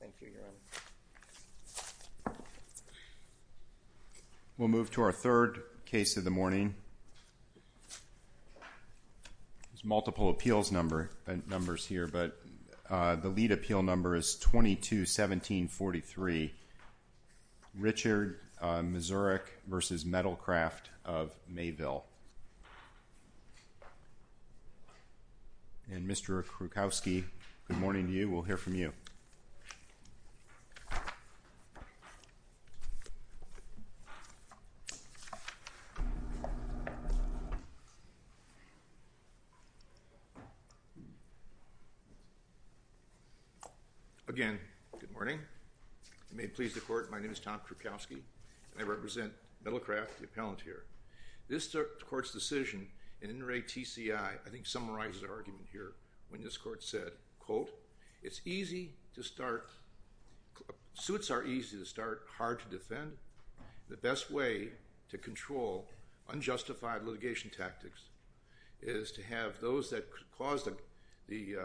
Thank you, Your Honor. We'll move to our third case of the morning. There's multiple appeals numbers here, but the lead appeal number is 22-1743, Richard Mazurek v. Metalcraft of Mayville. And Mr. Krukowski, good morning to you. We'll hear from you. Again, good morning. You may please the Court. My name is Tom Krukowski, and I represent Metalcraft, the appellant here. This Court's decision in Inouye T.C.I. I think summarizes our argument here. When this Court said, quote, It's easy to start, suits are easy to start, hard to defend. The best way to control unjustified litigation tactics is to have those that cause the,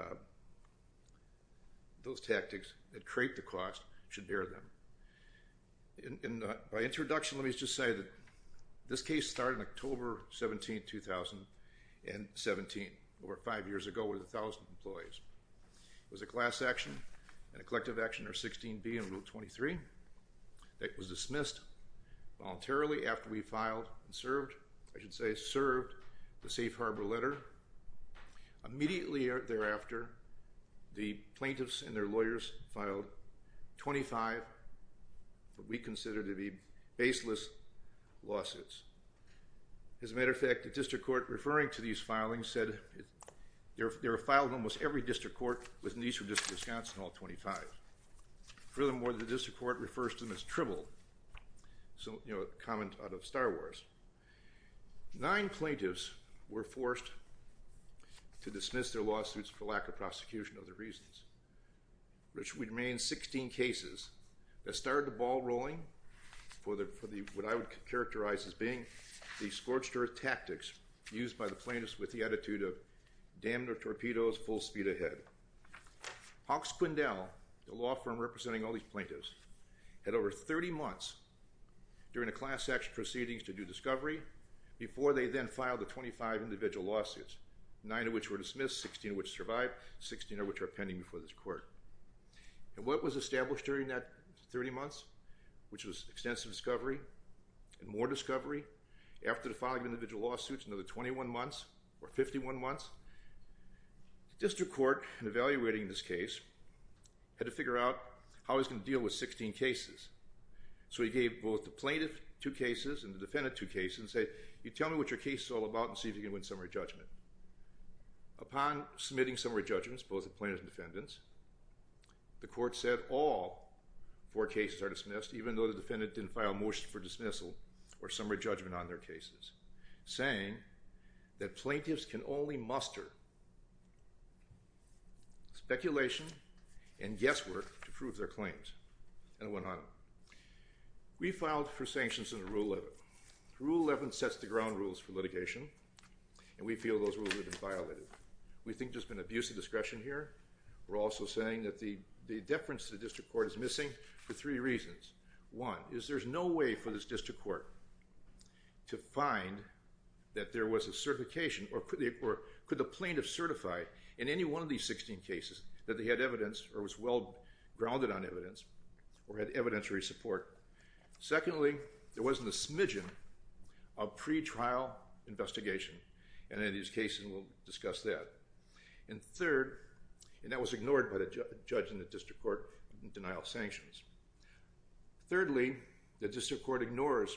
those tactics that create the cost should bear them. By introduction, let me just say that this case started October 17, 2017, over five years ago with 1,000 employees. It was a class action and a collective action, or 16B in Rule 23, that was dismissed voluntarily after we filed and served, I should say, served the safe harbor letter. Immediately thereafter, the plaintiffs and their lawyers filed 25 what we consider to be baseless lawsuits. As a matter of fact, the district court referring to these filings said they were filed in almost every district court within the Eastern District of Wisconsin, all 25. Furthermore, the district court refers to them as tripled, so, you know, a comment out of Star Wars. Nine plaintiffs were forced to dismiss their lawsuits for lack of prosecution of their reasons, which would remain 16 cases that started the ball rolling for the, what I would characterize as being the scorched earth tactics used by the plaintiffs with the attitude of damn their torpedoes, full speed ahead. Hawks Quindell, the law firm representing all these plaintiffs, had over 30 months during the class action proceedings to do discovery before they then filed the 25 individual lawsuits, nine of which were dismissed, 16 of which survived, 16 of which are pending before this court. And what was established during that 30 months, which was extensive discovery and more discovery, after the filing of individual lawsuits, another 21 months or 51 months, the district court in evaluating this case had to figure out how he was going to deal with 16 cases. So he gave both the plaintiff two cases and the defendant two cases and said, you tell me what your case is all about and see if you can win summary judgment. Upon submitting summary judgments, both the plaintiffs and defendants, the court said all four cases are dismissed, even though the defendant didn't file a motion for dismissal or summary judgment on their cases, saying that plaintiffs can only muster speculation and guesswork to prove their claims. And it went on. We filed for sanctions under Rule 11. Rule 11 sets the ground rules for litigation, and we feel those rules have been violated. We think there's been abuse of discretion here. We're also saying that the deference to the district court is missing for three reasons. One is there's no way for this district court to find that there was a certification or could the plaintiff certify in any one of these 16 cases that they had evidence or was well-grounded on evidence or had evidentiary support. Secondly, there wasn't a smidgen of pretrial investigation, and in these cases we'll discuss that. And third, and that was ignored by the judge in the district court in denial of sanctions, thirdly, the district court ignores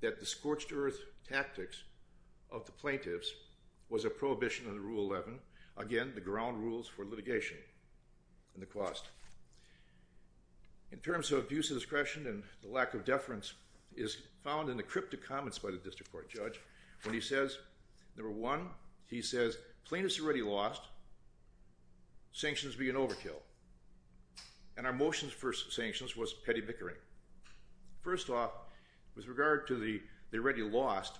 that the scorched-earth tactics of the plaintiffs was a prohibition under Rule 11, again, the ground rules for litigation and the cost. In terms of abuse of discretion and the lack of deference is found in the cryptic comments by the district court judge when he says, number one, he says plaintiffs already lost, sanctions being overkill, and our motion for sanctions was petty bickering. First off, with regard to the already lost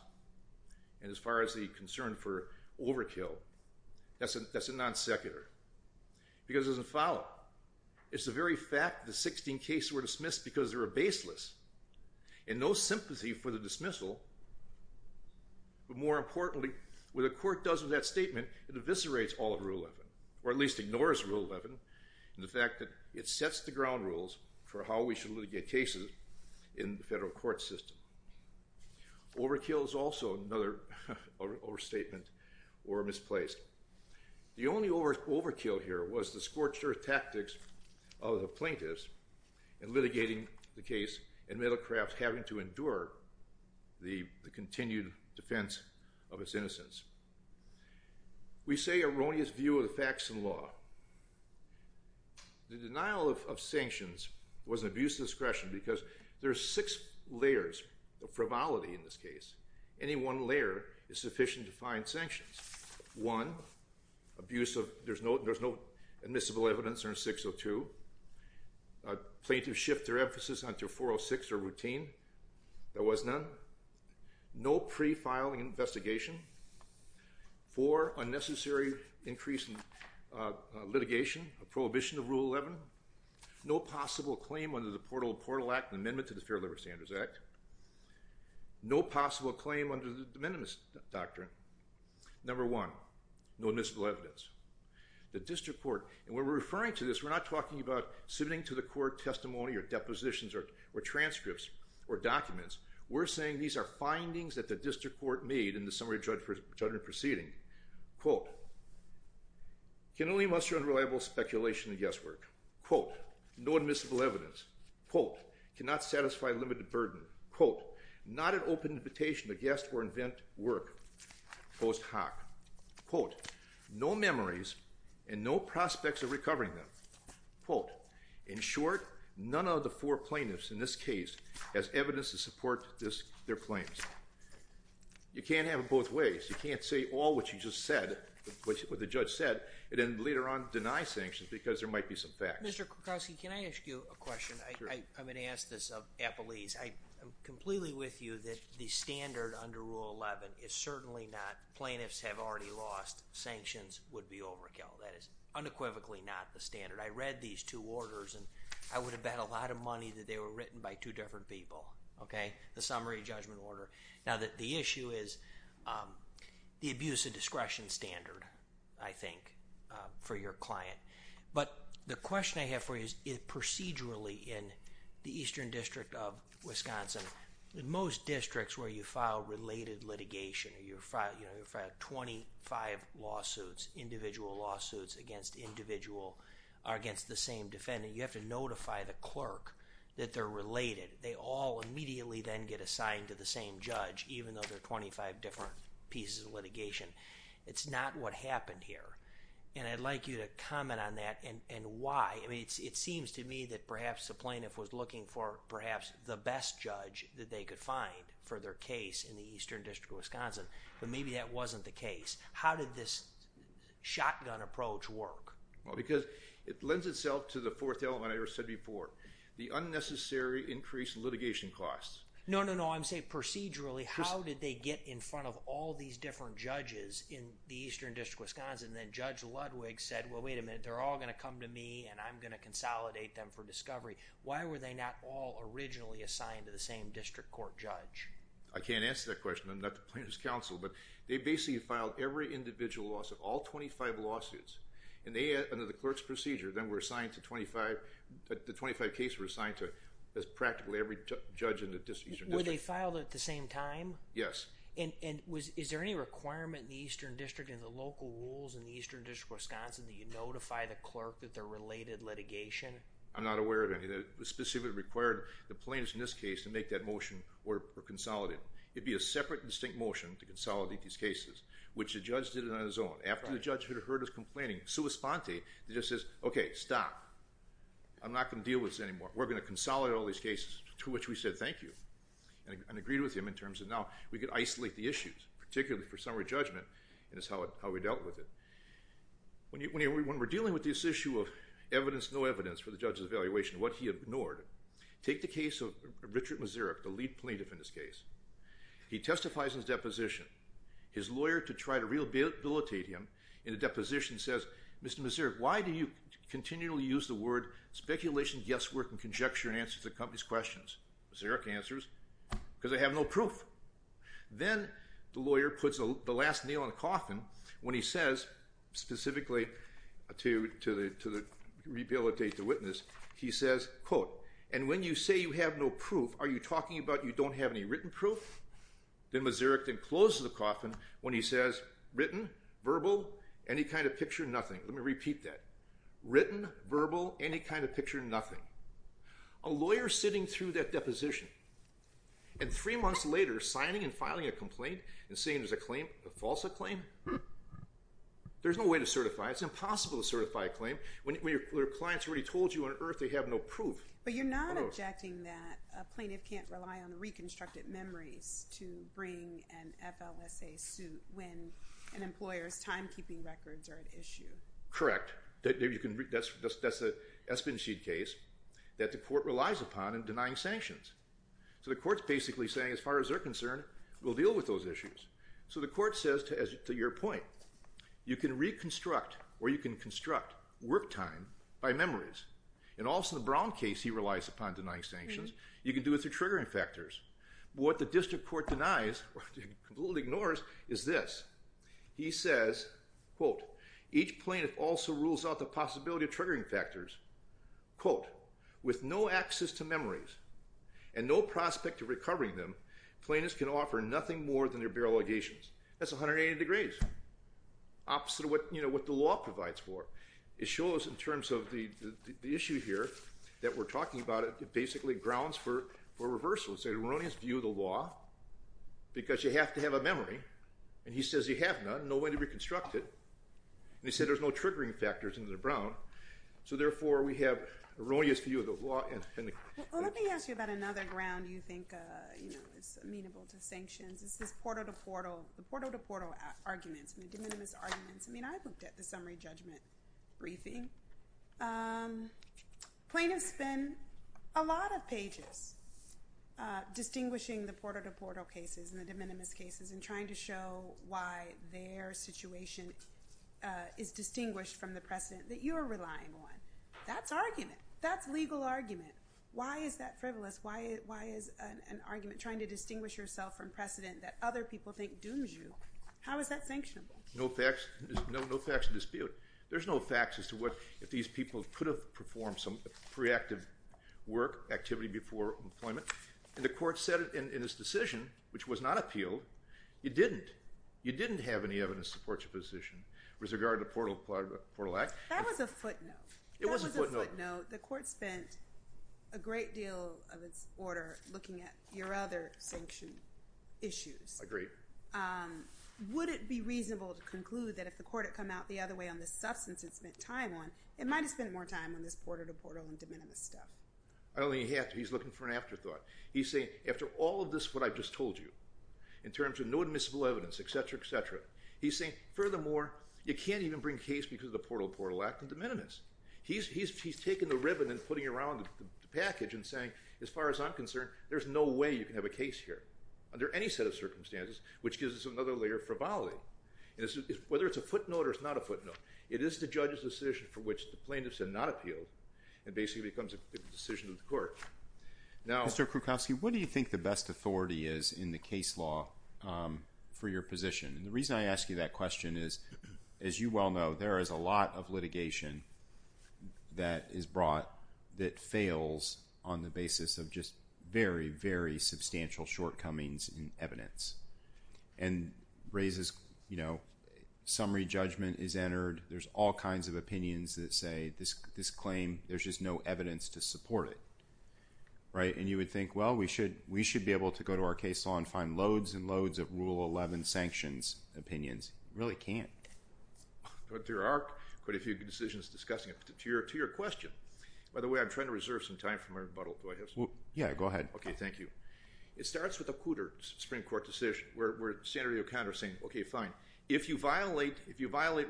and as far as the concern for overkill, that's a non-secular because it doesn't follow. It's the very fact that the 16 cases were dismissed because they were baseless and no sympathy for the dismissal, but more importantly, what the court does with that statement, it eviscerates all of Rule 11, or at least ignores Rule 11 in the fact that it sets the ground rules for how we should litigate cases in the federal court system. Overkill is also another overstatement or misplaced. The only overkill here was the scorched-earth tactics of the plaintiffs in litigating the case and Middlecraft having to endure the continued defense of his innocence. We say erroneous view of the facts and law. The denial of sanctions was an abuse of discretion because there are six layers of frivolity in this case. Any one layer is sufficient to find sanctions. One, abuse of, there's no admissible evidence under 602. Plaintiffs shift their emphasis onto 406 or routine. There was none. No pre-filing investigation. Four, unnecessary increase in litigation, a prohibition of Rule 11. No possible claim under the Portal of Portal Act, an amendment to the Fair Labor Standards Act. No possible claim under the de minimis doctrine. Number one, no admissible evidence. The district court, and when we're referring to this, we're not talking about submitting to the court testimony or depositions or transcripts or documents. We're saying these are findings that the district court made in the summary judgment proceeding. Quote, can only muster unreliable speculation and guesswork. Quote, no admissible evidence. Quote, cannot satisfy limited burden. Quote, not an open invitation to guess or invent work post hoc. Quote, no memories and no prospects of recovering them. Quote, in short, none of the four plaintiffs in this case has evidence to support their claims. You can't have it both ways. You can't say all what you just said, what the judge said, and then later on deny sanctions because there might be some facts. Mr. Krakowski, can I ask you a question? I'm going to ask this of Appalese. I'm completely with you that the standard under Rule 11 is certainly not plaintiffs have already lost, sanctions would be overkill. That is unequivocally not the standard. I read these two orders, and I would have bet a lot of money that they were written by two different people, okay, the summary judgment order. Now, the issue is the abuse of discretion standard, I think, for your client. But the question I have for you is procedurally in the Eastern District of Wisconsin, in most districts where you file related litigation, you file 25 lawsuits, individual lawsuits against individual or against the same defendant, you have to notify the clerk that they're related. They all immediately then get assigned to the same judge, even though there are 25 different pieces of litigation. It's not what happened here. And I'd like you to comment on that and why. I mean, it seems to me that perhaps the plaintiff was looking for perhaps the best judge that they could find for their case in the Eastern District of Wisconsin. But maybe that wasn't the case. How did this shotgun approach work? Well, because it lends itself to the fourth element I said before, the unnecessary increased litigation costs. No, no, no. I want to say procedurally, how did they get in front of all these different judges in the Eastern District of Wisconsin? And then Judge Ludwig said, well, wait a minute, they're all going to come to me and I'm going to consolidate them for discovery. Why were they not all originally assigned to the same district court judge? I can't answer that question. I'm not the plaintiff's counsel. But they basically filed every individual lawsuit, all 25 lawsuits. And they, under the clerk's procedure, then were assigned to 25, the 25 cases were assigned to practically every judge in the Eastern District. Were they filed at the same time? Yes. And is there any requirement in the Eastern District and the local rules in the Eastern District of Wisconsin that you notify the clerk that they're related litigation? I'm not aware of any that specifically required the plaintiffs in this case to make that motion or consolidate. It would be a separate, distinct motion to consolidate these cases, which the judge did it on his own. After the judge heard us complaining, sua sponte, he just says, okay, stop. I'm not going to deal with this anymore. We're going to consolidate all these cases to which we said thank you and agreed with him in terms of now we could isolate the issues, particularly for summary judgment, and that's how we dealt with it. When we're dealing with this issue of evidence, no evidence for the judge's evaluation, what he ignored, take the case of Richard Mazurik, the lead plaintiff in this case. He testifies in his deposition. His lawyer to try to rehabilitate him in the deposition says, Mr. Mazurik, why do you continually use the word speculation, guesswork, and conjecture in answer to the company's questions? Mazurik answers, because I have no proof. Then the lawyer puts the last nail in the coffin when he says specifically to rehabilitate the witness, he says, quote, and when you say you have no proof, are you talking about you don't have any written proof? Then Mazurik then closes the coffin when he says, written, verbal, any kind of picture, nothing. Let me repeat that. Written, verbal, any kind of picture, nothing. A lawyer sitting through that deposition and three months later signing and filing a complaint and seeing there's a claim, a false claim, there's no way to certify it. It's impossible to certify a claim when your client's already told you on earth they have no proof. But you're not objecting that a plaintiff can't rely on the reconstructed memories to bring an FLSA suit when an employer's timekeeping records are at issue. Correct. That's the Espenshede case that the court relies upon in denying sanctions. So the court's basically saying as far as they're concerned, we'll deal with those issues. So the court says, to your point, you can reconstruct or you can construct work time by memories. In Alston Brown case he relies upon denying sanctions. You can do it through triggering factors. What the district court denies or completely ignores is this. He says, quote, each plaintiff also rules out the possibility of triggering factors. Quote, with no access to memories and no prospect of recovering them, plaintiffs can offer nothing more than their bare allegations. That's 180 degrees. Opposite of what the law provides for. It shows in terms of the issue here that we're talking about it basically grounds for reversal. It's an erroneous view of the law because you have to have a memory. And he says you have none, no way to reconstruct it. And he said there's no triggering factors under Brown. So therefore we have an erroneous view of the law. Well, let me ask you about another ground you think is amenable to sanctions. It's this portal-to-portal arguments, de minimis arguments. I mean, I looked at the summary judgment briefing. Plaintiffs spend a lot of pages distinguishing the portal-to-portal cases and the de minimis cases and trying to show why their situation is distinguished from the precedent that you are relying on. That's argument. That's legal argument. Why is that frivolous? Why is an argument trying to distinguish yourself from precedent that other people think dooms you? How is that sanctionable? No facts to dispute. There's no facts as to what if these people could have performed some preactive work activity before employment. And the court said in its decision, which was not appealed, you didn't. You didn't have any evidence to support your position with regard to the portal-to-portal act. That was a footnote. It was a footnote. That was a footnote. The court spent a great deal of its order looking at your other sanction issues. Agreed. Would it be reasonable to conclude that if the court had come out the other way on the substance it spent time on, it might have spent more time on this portal-to-portal and de minimis stuff? I don't think you have to. He's looking for an afterthought. He's saying, after all of this, what I've just told you, in terms of no admissible evidence, et cetera, et cetera, he's saying, furthermore, you can't even bring case because of the portal-to-portal act and de minimis. He's taking the ribbon and putting it around the package and saying, as far as I'm concerned, there's no way you can have a case here. Under any set of circumstances, which gives us another layer of frivolity, whether it's a footnote or it's not a footnote, it is the judge's decision for which the plaintiffs have not appealed and basically becomes a decision of the court. Mr. Krukowski, what do you think the best authority is in the case law for your position? And the reason I ask you that question is, as you well know, there is a lot of litigation that is brought that fails on the basis of just very, very substantial shortcomings in evidence and raises summary judgment is entered. There's all kinds of opinions that say this claim, there's just no evidence to support it. And you would think, well, we should be able to go to our case law and find loads and loads of Rule 11 sanctions opinions. You really can't. But there are quite a few decisions discussing it. To your question, by the way, I'm trying to reserve some time for my rebuttal. Do I have some time? Yeah, go ahead. Okay, thank you. It starts with a Cooter Supreme Court decision where Senator O'Connor is saying, okay, fine. If you violate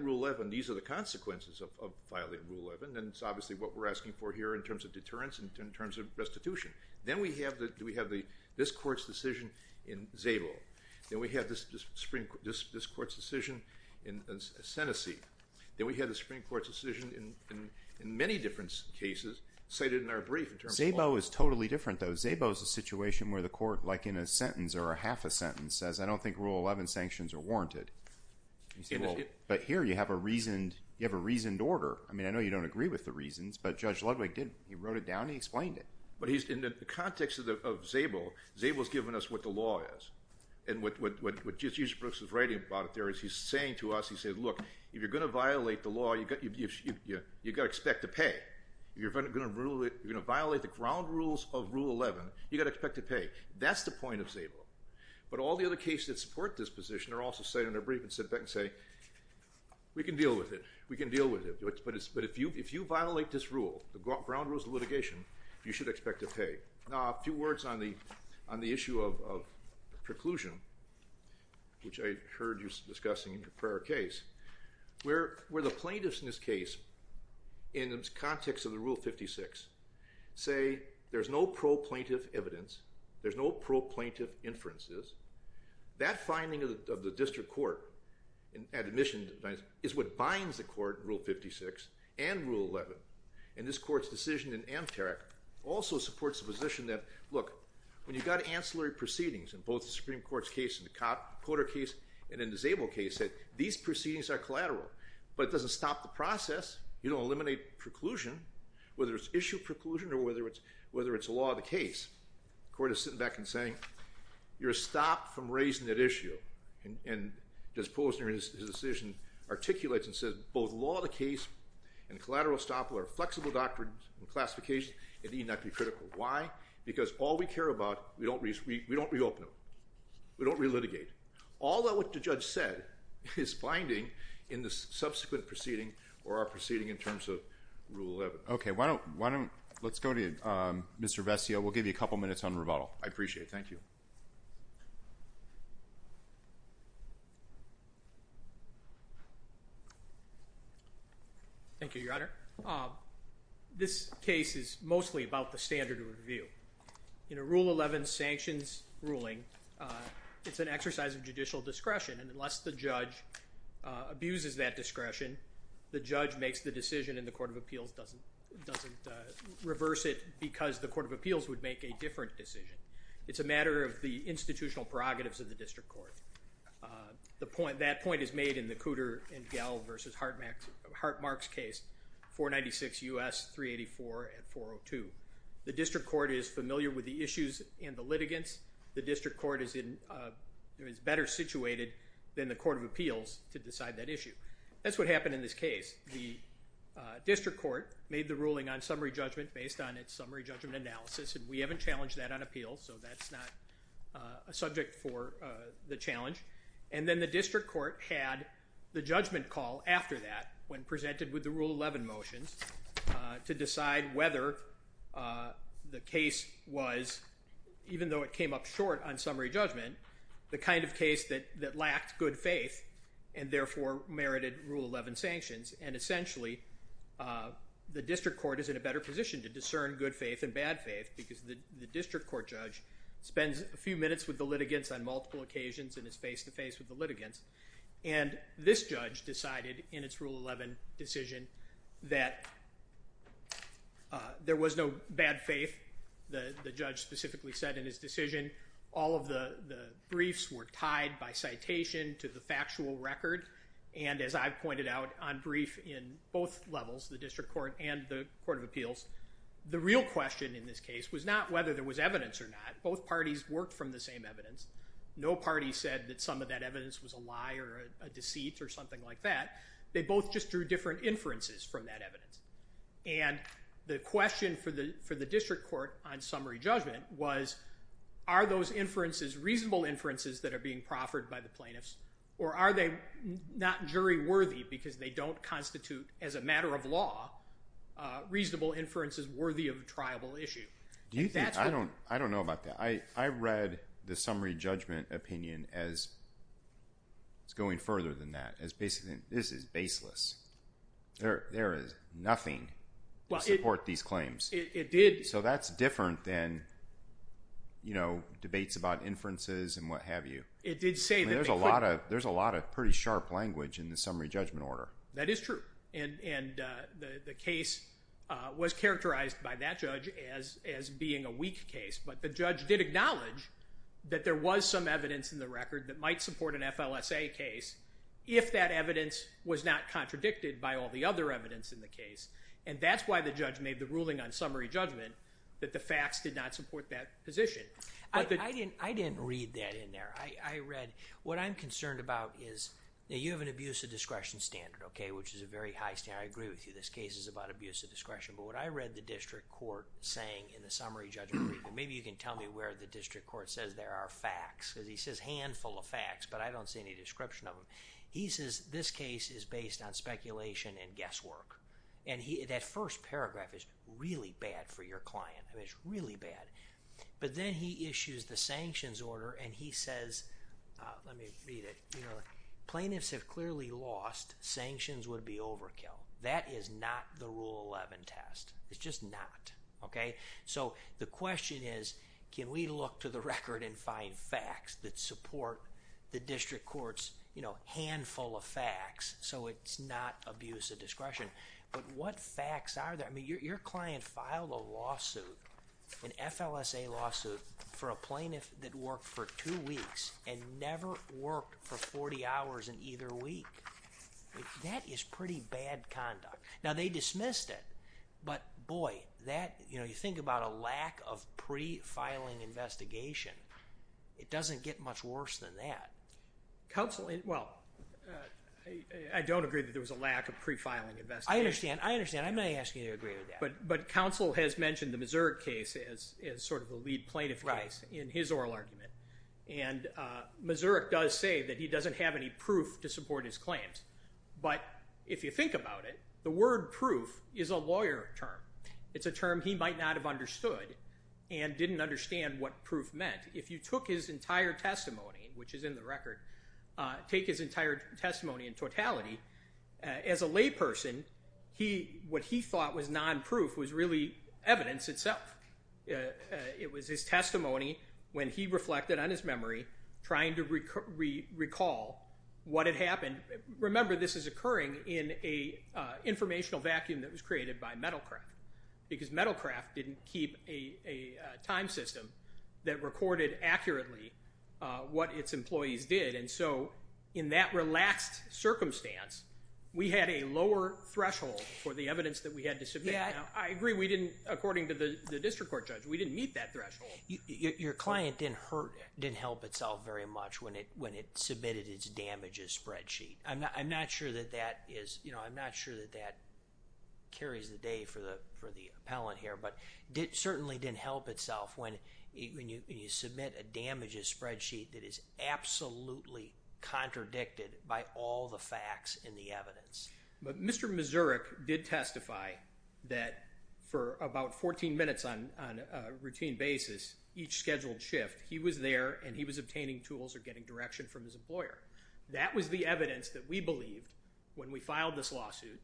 Rule 11, these are the consequences of violating Rule 11, and it's obviously what we're asking for here in terms of deterrence and in terms of restitution. Then we have this court's decision in Zabo. Then we have this court's decision in Assenecy. Then we have the Supreme Court's decision in many different cases cited in our brief in terms of law. Zabo is totally different, though. Zabo is a situation where the court, like in a sentence or a half a sentence, says, I don't think Rule 11 sanctions are warranted. But here you have a reasoned order. I mean, I know you don't agree with the reasons, but Judge Ludwig did. He wrote it down and he explained it. But in the context of Zabo, Zabo has given us what the law is. And what Jesus Brooks is writing about there is he's saying to us, he says, look, if you're going to violate the law, you've got to expect to pay. If you're going to violate the ground rules of Rule 11, you've got to expect to pay. That's the point of Zabo. But all the other cases that support this position are also cited in their brief and sit back and say, we can deal with it. We can deal with it. But if you violate this rule, the ground rules of litigation, you should expect to pay. Now, a few words on the issue of preclusion, which I heard you discussing in your prior case. Where the plaintiffs in this case, in the context of the Rule 56, say there's no pro-plaintiff evidence, there's no pro-plaintiff inferences, that finding of the district court at admission is what binds the court in Rule 56 and Rule 11. And this court's decision in Amterak also supports the position that, look, when you've got ancillary proceedings in both the Supreme Court's case, in the Cotter case and in the Zabo case, that these proceedings are collateral. But it doesn't stop the process. You don't eliminate preclusion, whether it's issue preclusion or whether it's a law of the case. The court is sitting back and saying, you're a stop from raising that issue. And as Posner in his decision articulates and says, both law of the case and collateral estoppel are flexible doctrines and classifications. It need not be critical. Why? Because all we care about, we don't reopen them. We don't re-litigate. All that what the judge said is binding in the subsequent proceeding or our proceeding in terms of Rule 11. Let's go to Mr. Vestia. We'll give you a couple minutes on rebuttal. I appreciate it. Thank you. Thank you, Your Honor. This case is mostly about the standard of review. In a Rule 11 sanctions ruling, it's an exercise of judicial discretion. And unless the judge abuses that discretion, the judge makes the decision and the Court of Appeals doesn't reverse it because the Court of Appeals would make a different decision. It's a matter of the institutional prerogatives of the district court. That point is made in the Cooter and Gell v. Hartmark's case, 496 U.S. 384 and 402. The district court is familiar with the issues and the litigants. The district court is better situated than the Court of Appeals to decide that issue. That's what happened in this case. The district court made the ruling on summary judgment based on its summary judgment analysis. And we haven't challenged that on appeals, so that's not a subject for the challenge. And then the district court had the judgment call after that when presented with the Rule 11 motions to decide whether the case was, even though it came up short on summary judgment, the kind of case that lacked good faith and therefore merited Rule 11 sanctions. And essentially, the district court is in a better position to discern good faith and bad faith because the district court judge spends a few minutes with the litigants on multiple occasions and is face-to-face with the litigants. And this judge decided in its Rule 11 decision that there was no bad faith. The judge specifically said in his decision all of the briefs were tied by citation to the factual record. And as I've pointed out, on brief in both levels, the district court and the Court of Appeals, the real question in this case was not whether there was evidence or not. Both parties worked from the same evidence. No party said that some of that evidence was a lie or a deceit or something like that. They both just drew different inferences from that evidence. And the question for the district court on summary judgment was, are those inferences reasonable inferences that are being proffered by the plaintiffs or are they not jury worthy because they don't constitute, as a matter of law, reasonable inferences worthy of a triable issue? I don't know about that. I read the summary judgment opinion as going further than that, as basically this is baseless. There is nothing to support these claims. So that's different than debates about inferences and what have you. There's a lot of pretty sharp language in the summary judgment order. That is true. And the case was characterized by that judge as being a weak case, but the judge did acknowledge that there was some evidence in the record that might support an FLSA case if that evidence was not contradicted by all the other evidence in the case. And that's why the judge made the ruling on summary judgment, that the facts did not support that position. I didn't read that in there. I read what I'm concerned about is that you have an abuse of discretion standard, okay, which is a very high standard. I agree with you. This case is about abuse of discretion. But what I read the district court saying in the summary judgment, and maybe you can tell me where the district court says there are facts, because he says handful of facts, but I don't see any description of them. He says this case is based on speculation and guesswork. And that first paragraph is really bad for your client. I mean, it's really bad. But then he issues the sanctions order and he says, let me read it, you know, plaintiffs have clearly lost, sanctions would be overkill. That is not the Rule 11 test. It's just not, okay. So the question is, can we look to the record and find facts that support the district court's, you know, handful of facts so it's not abuse of discretion. But what facts are there? I mean, your client filed a lawsuit, an FLSA lawsuit, for a plaintiff that worked for two weeks and never worked for 40 hours in either week. That is pretty bad conduct. Now, they dismissed it. But, boy, that, you know, you think about a lack of pre-filing investigation. It doesn't get much worse than that. Counsel, well, I don't agree that there was a lack of pre-filing investigation. I understand. I understand. I'm not asking you to agree with that. But counsel has mentioned the Missouri case as sort of the lead plaintiff case in his oral argument. And Missouri does say that he doesn't have any proof to support his claims. But if you think about it, the word proof is a lawyer term. It's a term he might not have understood and didn't understand what proof meant. If you took his entire testimony, which is in the record, take his entire testimony in totality, as a layperson, what he thought was non-proof was really evidence itself. It was his testimony when he reflected on his memory, trying to recall what had happened. Remember, this is occurring in an informational vacuum that was created by MetalCraft because MetalCraft didn't keep a time system that recorded accurately what its employees did. And so in that relaxed circumstance, we had a lower threshold for the evidence that we had to submit. I agree we didn't, according to the district court judge, we didn't meet that threshold. Your client didn't help itself very much when it submitted its damages spreadsheet. I'm not sure that that carries the day for the appellant here. But it certainly didn't help itself when you submit a damages spreadsheet that is absolutely contradicted by all the facts and the evidence. But Mr. Mazurek did testify that for about 14 minutes on a routine basis, each scheduled shift, he was there and he was obtaining tools or getting direction from his employer. That was the evidence that we believed when we filed this lawsuit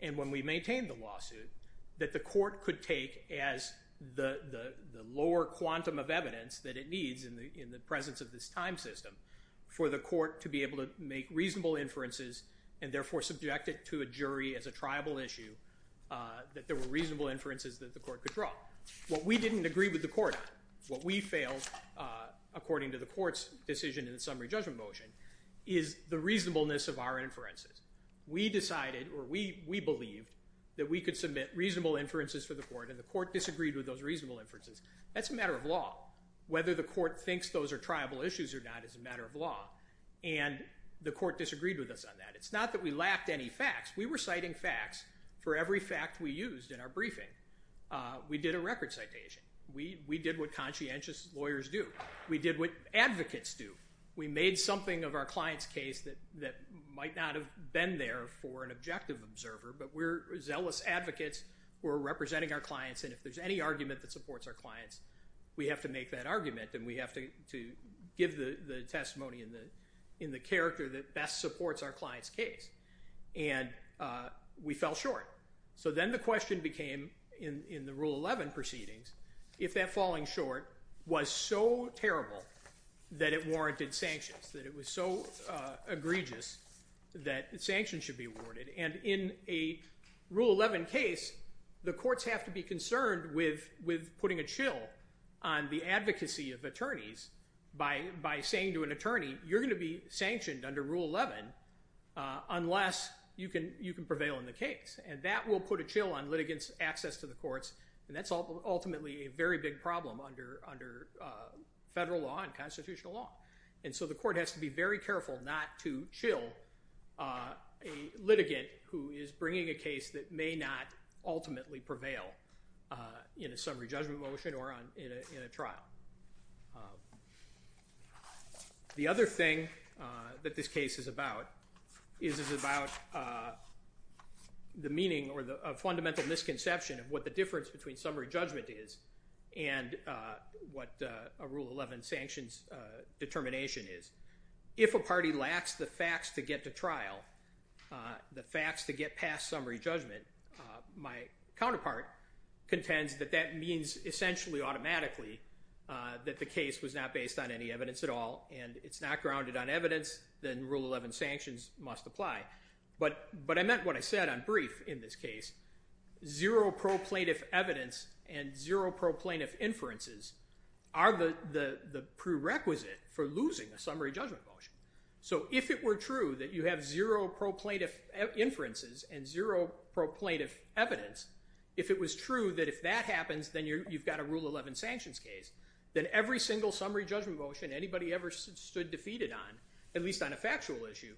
and when we maintained the lawsuit that the court could take as the lower quantum of evidence that it needs in the presence of this time system for the court to be able to make reasonable inferences and therefore subject it to a jury as a triable issue that there were reasonable inferences that the court could draw. What we didn't agree with the court on, what we failed, according to the court's decision in the summary judgment motion, is the reasonableness of our inferences. We decided or we believed that we could submit reasonable inferences for the court and the court disagreed with those reasonable inferences. That's a matter of law. Whether the court thinks those are triable issues or not is a matter of law. And the court disagreed with us on that. It's not that we lacked any facts. We were citing facts for every fact we used in our briefing. We did a record citation. We did what conscientious lawyers do. We did what advocates do. We made something of our client's case that might not have been there for an objective observer, but we're zealous advocates who are representing our clients, and if there's any argument that supports our clients, we have to make that argument and we have to give the testimony in the character that best supports our client's case. And we fell short. So then the question became, in the Rule 11 proceedings, if that falling short was so terrible that it warranted sanctions, that it was so egregious that sanctions should be awarded. And in a Rule 11 case, the courts have to be concerned with putting a chill on the advocacy of attorneys by saying to an attorney, you're going to be sanctioned under Rule 11 unless you can prevail in the case. And that will put a chill on litigants' access to the courts, and that's ultimately a very big problem under federal law and constitutional law. And so the court has to be very careful not to chill a litigant who is bringing a case that may not ultimately prevail in a summary judgment motion or in a trial. The other thing that this case is about is it's about the meaning or the fundamental misconception of what the difference between summary judgment is and what a Rule 11 sanctions determination is. If a party lacks the facts to get to trial, the facts to get past summary judgment, my counterpart contends that that means essentially automatically that the case was not based on any evidence at all, and it's not grounded on evidence, then Rule 11 sanctions must apply. But I meant what I said on brief in this case. Zero pro plaintiff evidence and zero pro plaintiff inferences are the prerequisite for losing a summary judgment motion. So if it were true that you have zero pro plaintiff inferences and zero pro plaintiff evidence, if it was true that if that happens then you've got a Rule 11 sanctions case, then every single summary judgment motion anybody ever stood defeated on, at least on a factual issue,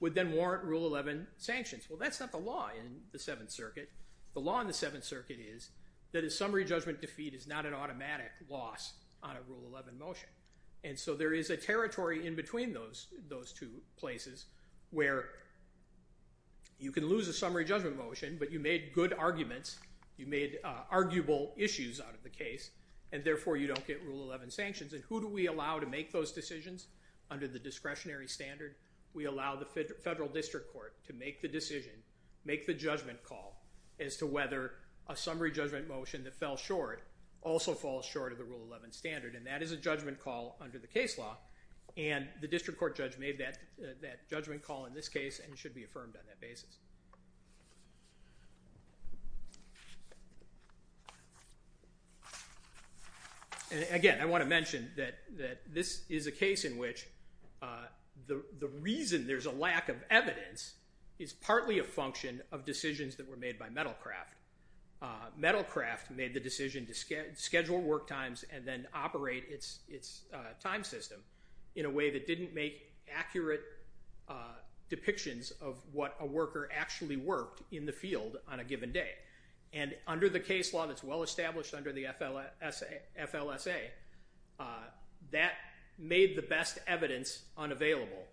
would then warrant Rule 11 sanctions. Well, that's not the law in the Seventh Circuit. The law in the Seventh Circuit is that a summary judgment defeat is not an automatic loss on a Rule 11 motion. And so there is a territory in between those two places where you can lose a summary judgment motion, but you made good arguments, you made arguable issues out of the case, and therefore you don't get Rule 11 sanctions. And who do we allow to make those decisions under the discretionary standard? We allow the federal district court to make the decision, make the judgment call, as to whether a summary judgment motion that fell short also falls short of the Rule 11 standard. And that is a judgment call under the case law, and the district court judge made that judgment call in this case and it should be affirmed on that basis. And, again, I want to mention that this is a case in which the reason there's a lack of evidence is partly a function Metalcraft made the decision to schedule work times and then operate its time system in a way that didn't make accurate depictions of what a worker actually worked in the field on a given day. And under the case law that's well established under the FLSA, that made the best evidence unavailable,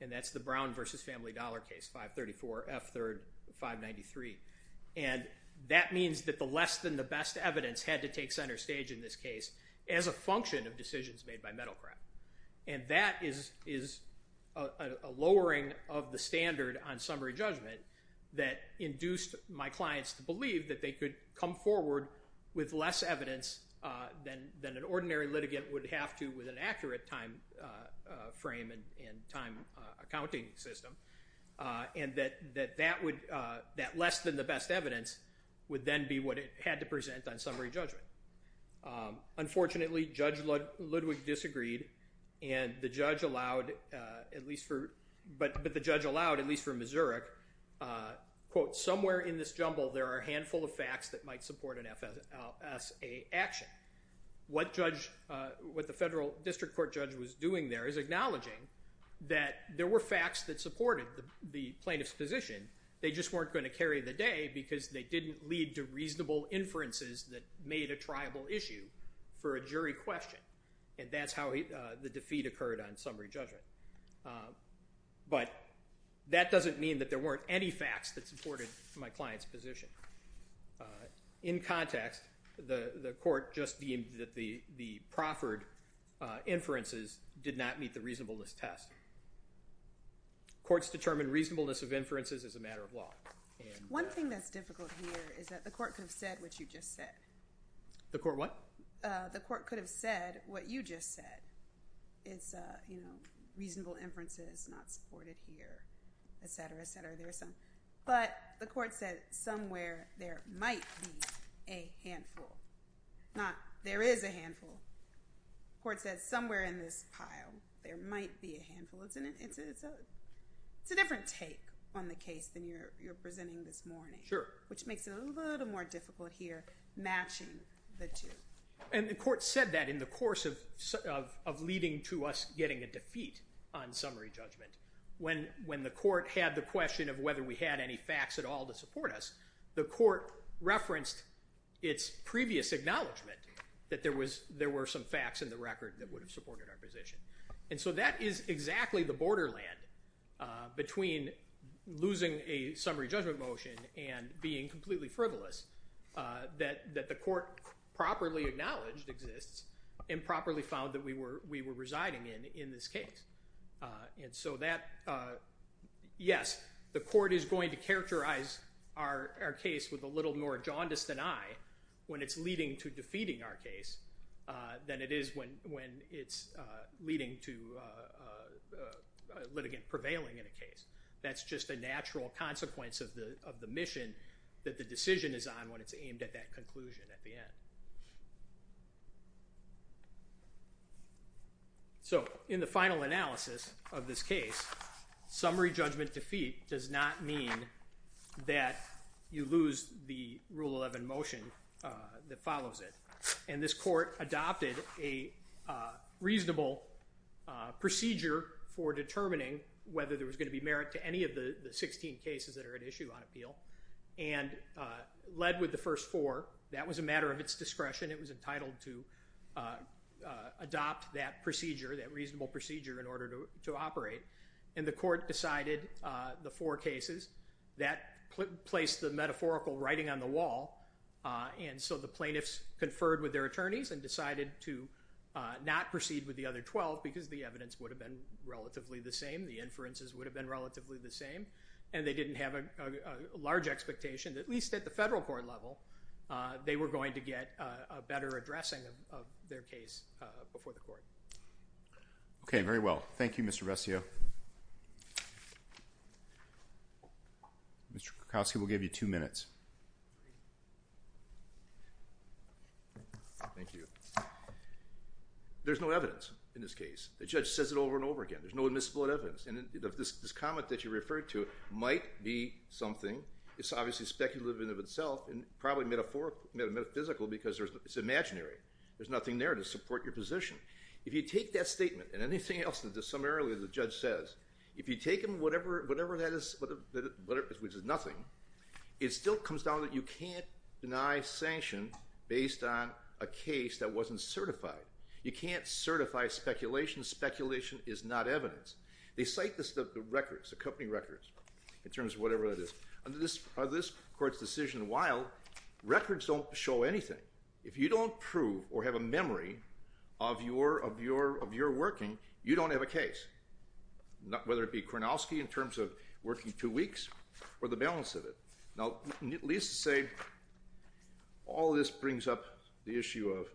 and that's the Brown versus Family Dollar case, 534, F3rd, 593. And that means that the less than the best evidence had to take center stage in this case as a function of decisions made by Metalcraft. And that is a lowering of the standard on summary judgment that induced my clients to believe that they could come forward with less evidence than an ordinary litigant would have to come forward with an accurate time frame and time accounting system, and that less than the best evidence would then be what it had to present on summary judgment. Unfortunately, Judge Ludwig disagreed, but the judge allowed, at least for Missouri, quote, somewhere in this jumble there are a handful of facts that might support an FLSA action. What the federal district court judge was doing there is acknowledging that there were facts that supported the plaintiff's position. They just weren't going to carry the day because they didn't lead to reasonable inferences that made a triable issue for a jury question, and that's how the defeat occurred on summary judgment. But that doesn't mean that there weren't any facts that supported my client's position. In context, the court just deemed that the proffered inferences did not meet the reasonableness test. Courts determine reasonableness of inferences as a matter of law. One thing that's difficult here is that the court could have said what you just said. The court what? The court could have said what you just said. It's, you know, reasonable inferences not supported here, et cetera, et cetera. But the court said somewhere there might be a handful. Not there is a handful. The court said somewhere in this pile there might be a handful. It's a different take on the case than you're presenting this morning. Sure. Which makes it a little more difficult here matching the two. And the court said that in the course of leading to us getting a defeat on summary judgment. When the court had the question of whether we had any facts at all to support us, the court referenced its previous acknowledgement that there were some facts in the record that would have supported our position. And so that is exactly the borderland between losing a summary judgment motion and being completely frivolous. That the court properly acknowledged exists and properly found that we were residing in in this case. And so that, yes, the court is going to characterize our case with a little more jaundice than I when it's leading to defeating our case than it is when it's leading to litigant prevailing in a case. That's just a natural consequence of the mission that the decision is on when it's aimed at that conclusion at the end. So in the final analysis of this case, summary judgment defeat does not mean that you lose the Rule 11 motion that follows it. And this court adopted a reasonable procedure for determining whether there was going to be merit to any of the 16 cases that are at issue on appeal. And led with the first four, that was a matter of its discretion. It was entitled to adopt that procedure, that reasonable procedure in order to operate. And the court decided the four cases that placed the metaphorical writing on the wall. And so the plaintiffs conferred with their attorneys and decided to not proceed with the other 12 because the evidence would have been relatively the same, the inferences would have been relatively the same. And they didn't have a large expectation, at least at the federal court level, they were going to get a better addressing of their case before the court. Okay, very well. Thank you, Mr. Rescio. Mr. Krakowski, we'll give you two minutes. Thank you. There's no evidence in this case. The judge says it over and over again. There's no admissible evidence. And this comment that you referred to might be something that's obviously speculative in and of itself and probably metaphysical because it's imaginary. There's nothing there to support your position. If you take that statement and anything else that the judge says, if you take them, whatever that is, which is nothing, it still comes down that you can't deny sanction based on a case that wasn't certified. You can't certify speculation. Speculation is not evidence. They cite the company records in terms of whatever that is. Under this court's decision, while records don't show anything, if you don't prove or have a memory of your working, you don't have a case, whether it be Kronowski in terms of working two weeks or the balance of it. Now, at least to say all of this brings up the issue of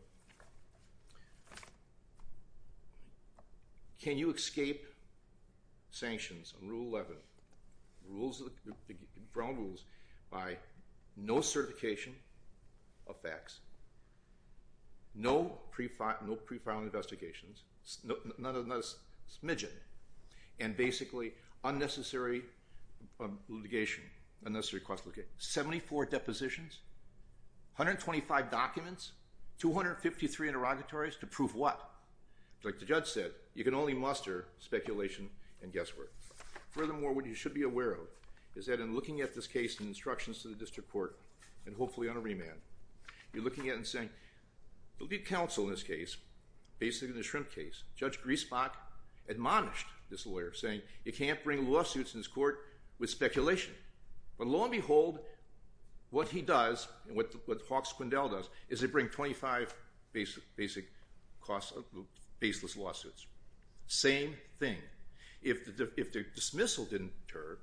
can you escape sanctions on Rule 11, the ground rules, by no certification of facts, no pre-filing investigations, not a smidgen, and basically unnecessary litigation, unnecessary cross-location. Seventy-four depositions, 125 documents, 253 interrogatories to prove what? Like the judge said, you can only muster speculation and guesswork. Furthermore, what you should be aware of is that in looking at this case and instructions to the district court and hopefully on a remand, you're looking at it and saying, look at counsel in this case. Basically, in the shrimp case, Judge Griesbach admonished this lawyer, saying you can't bring lawsuits in this court with speculation. But lo and behold, what he does and what Hawke-Squindell does is they bring 25 basic baseless lawsuits. Same thing. If the dismissal didn't deter,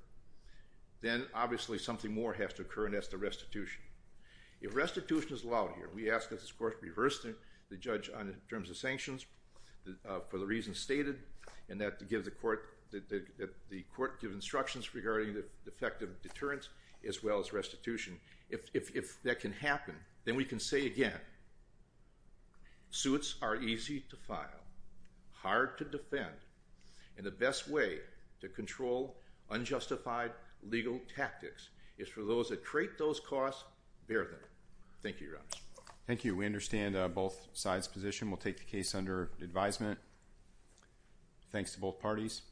then obviously something more has to occur, and that's the restitution. If restitution is allowed here, we ask that this court reverse the judge in terms of sanctions for the reasons stated and that the court give instructions regarding the effective deterrence as well as restitution. If that can happen, then we can say again, suits are easy to file, hard to defend, and the best way to control unjustified legal tactics is for those that create those costs, bear them. Thank you, Your Honors. Thank you. We understand both sides' position. We'll take the case under advisement. Thanks to both parties.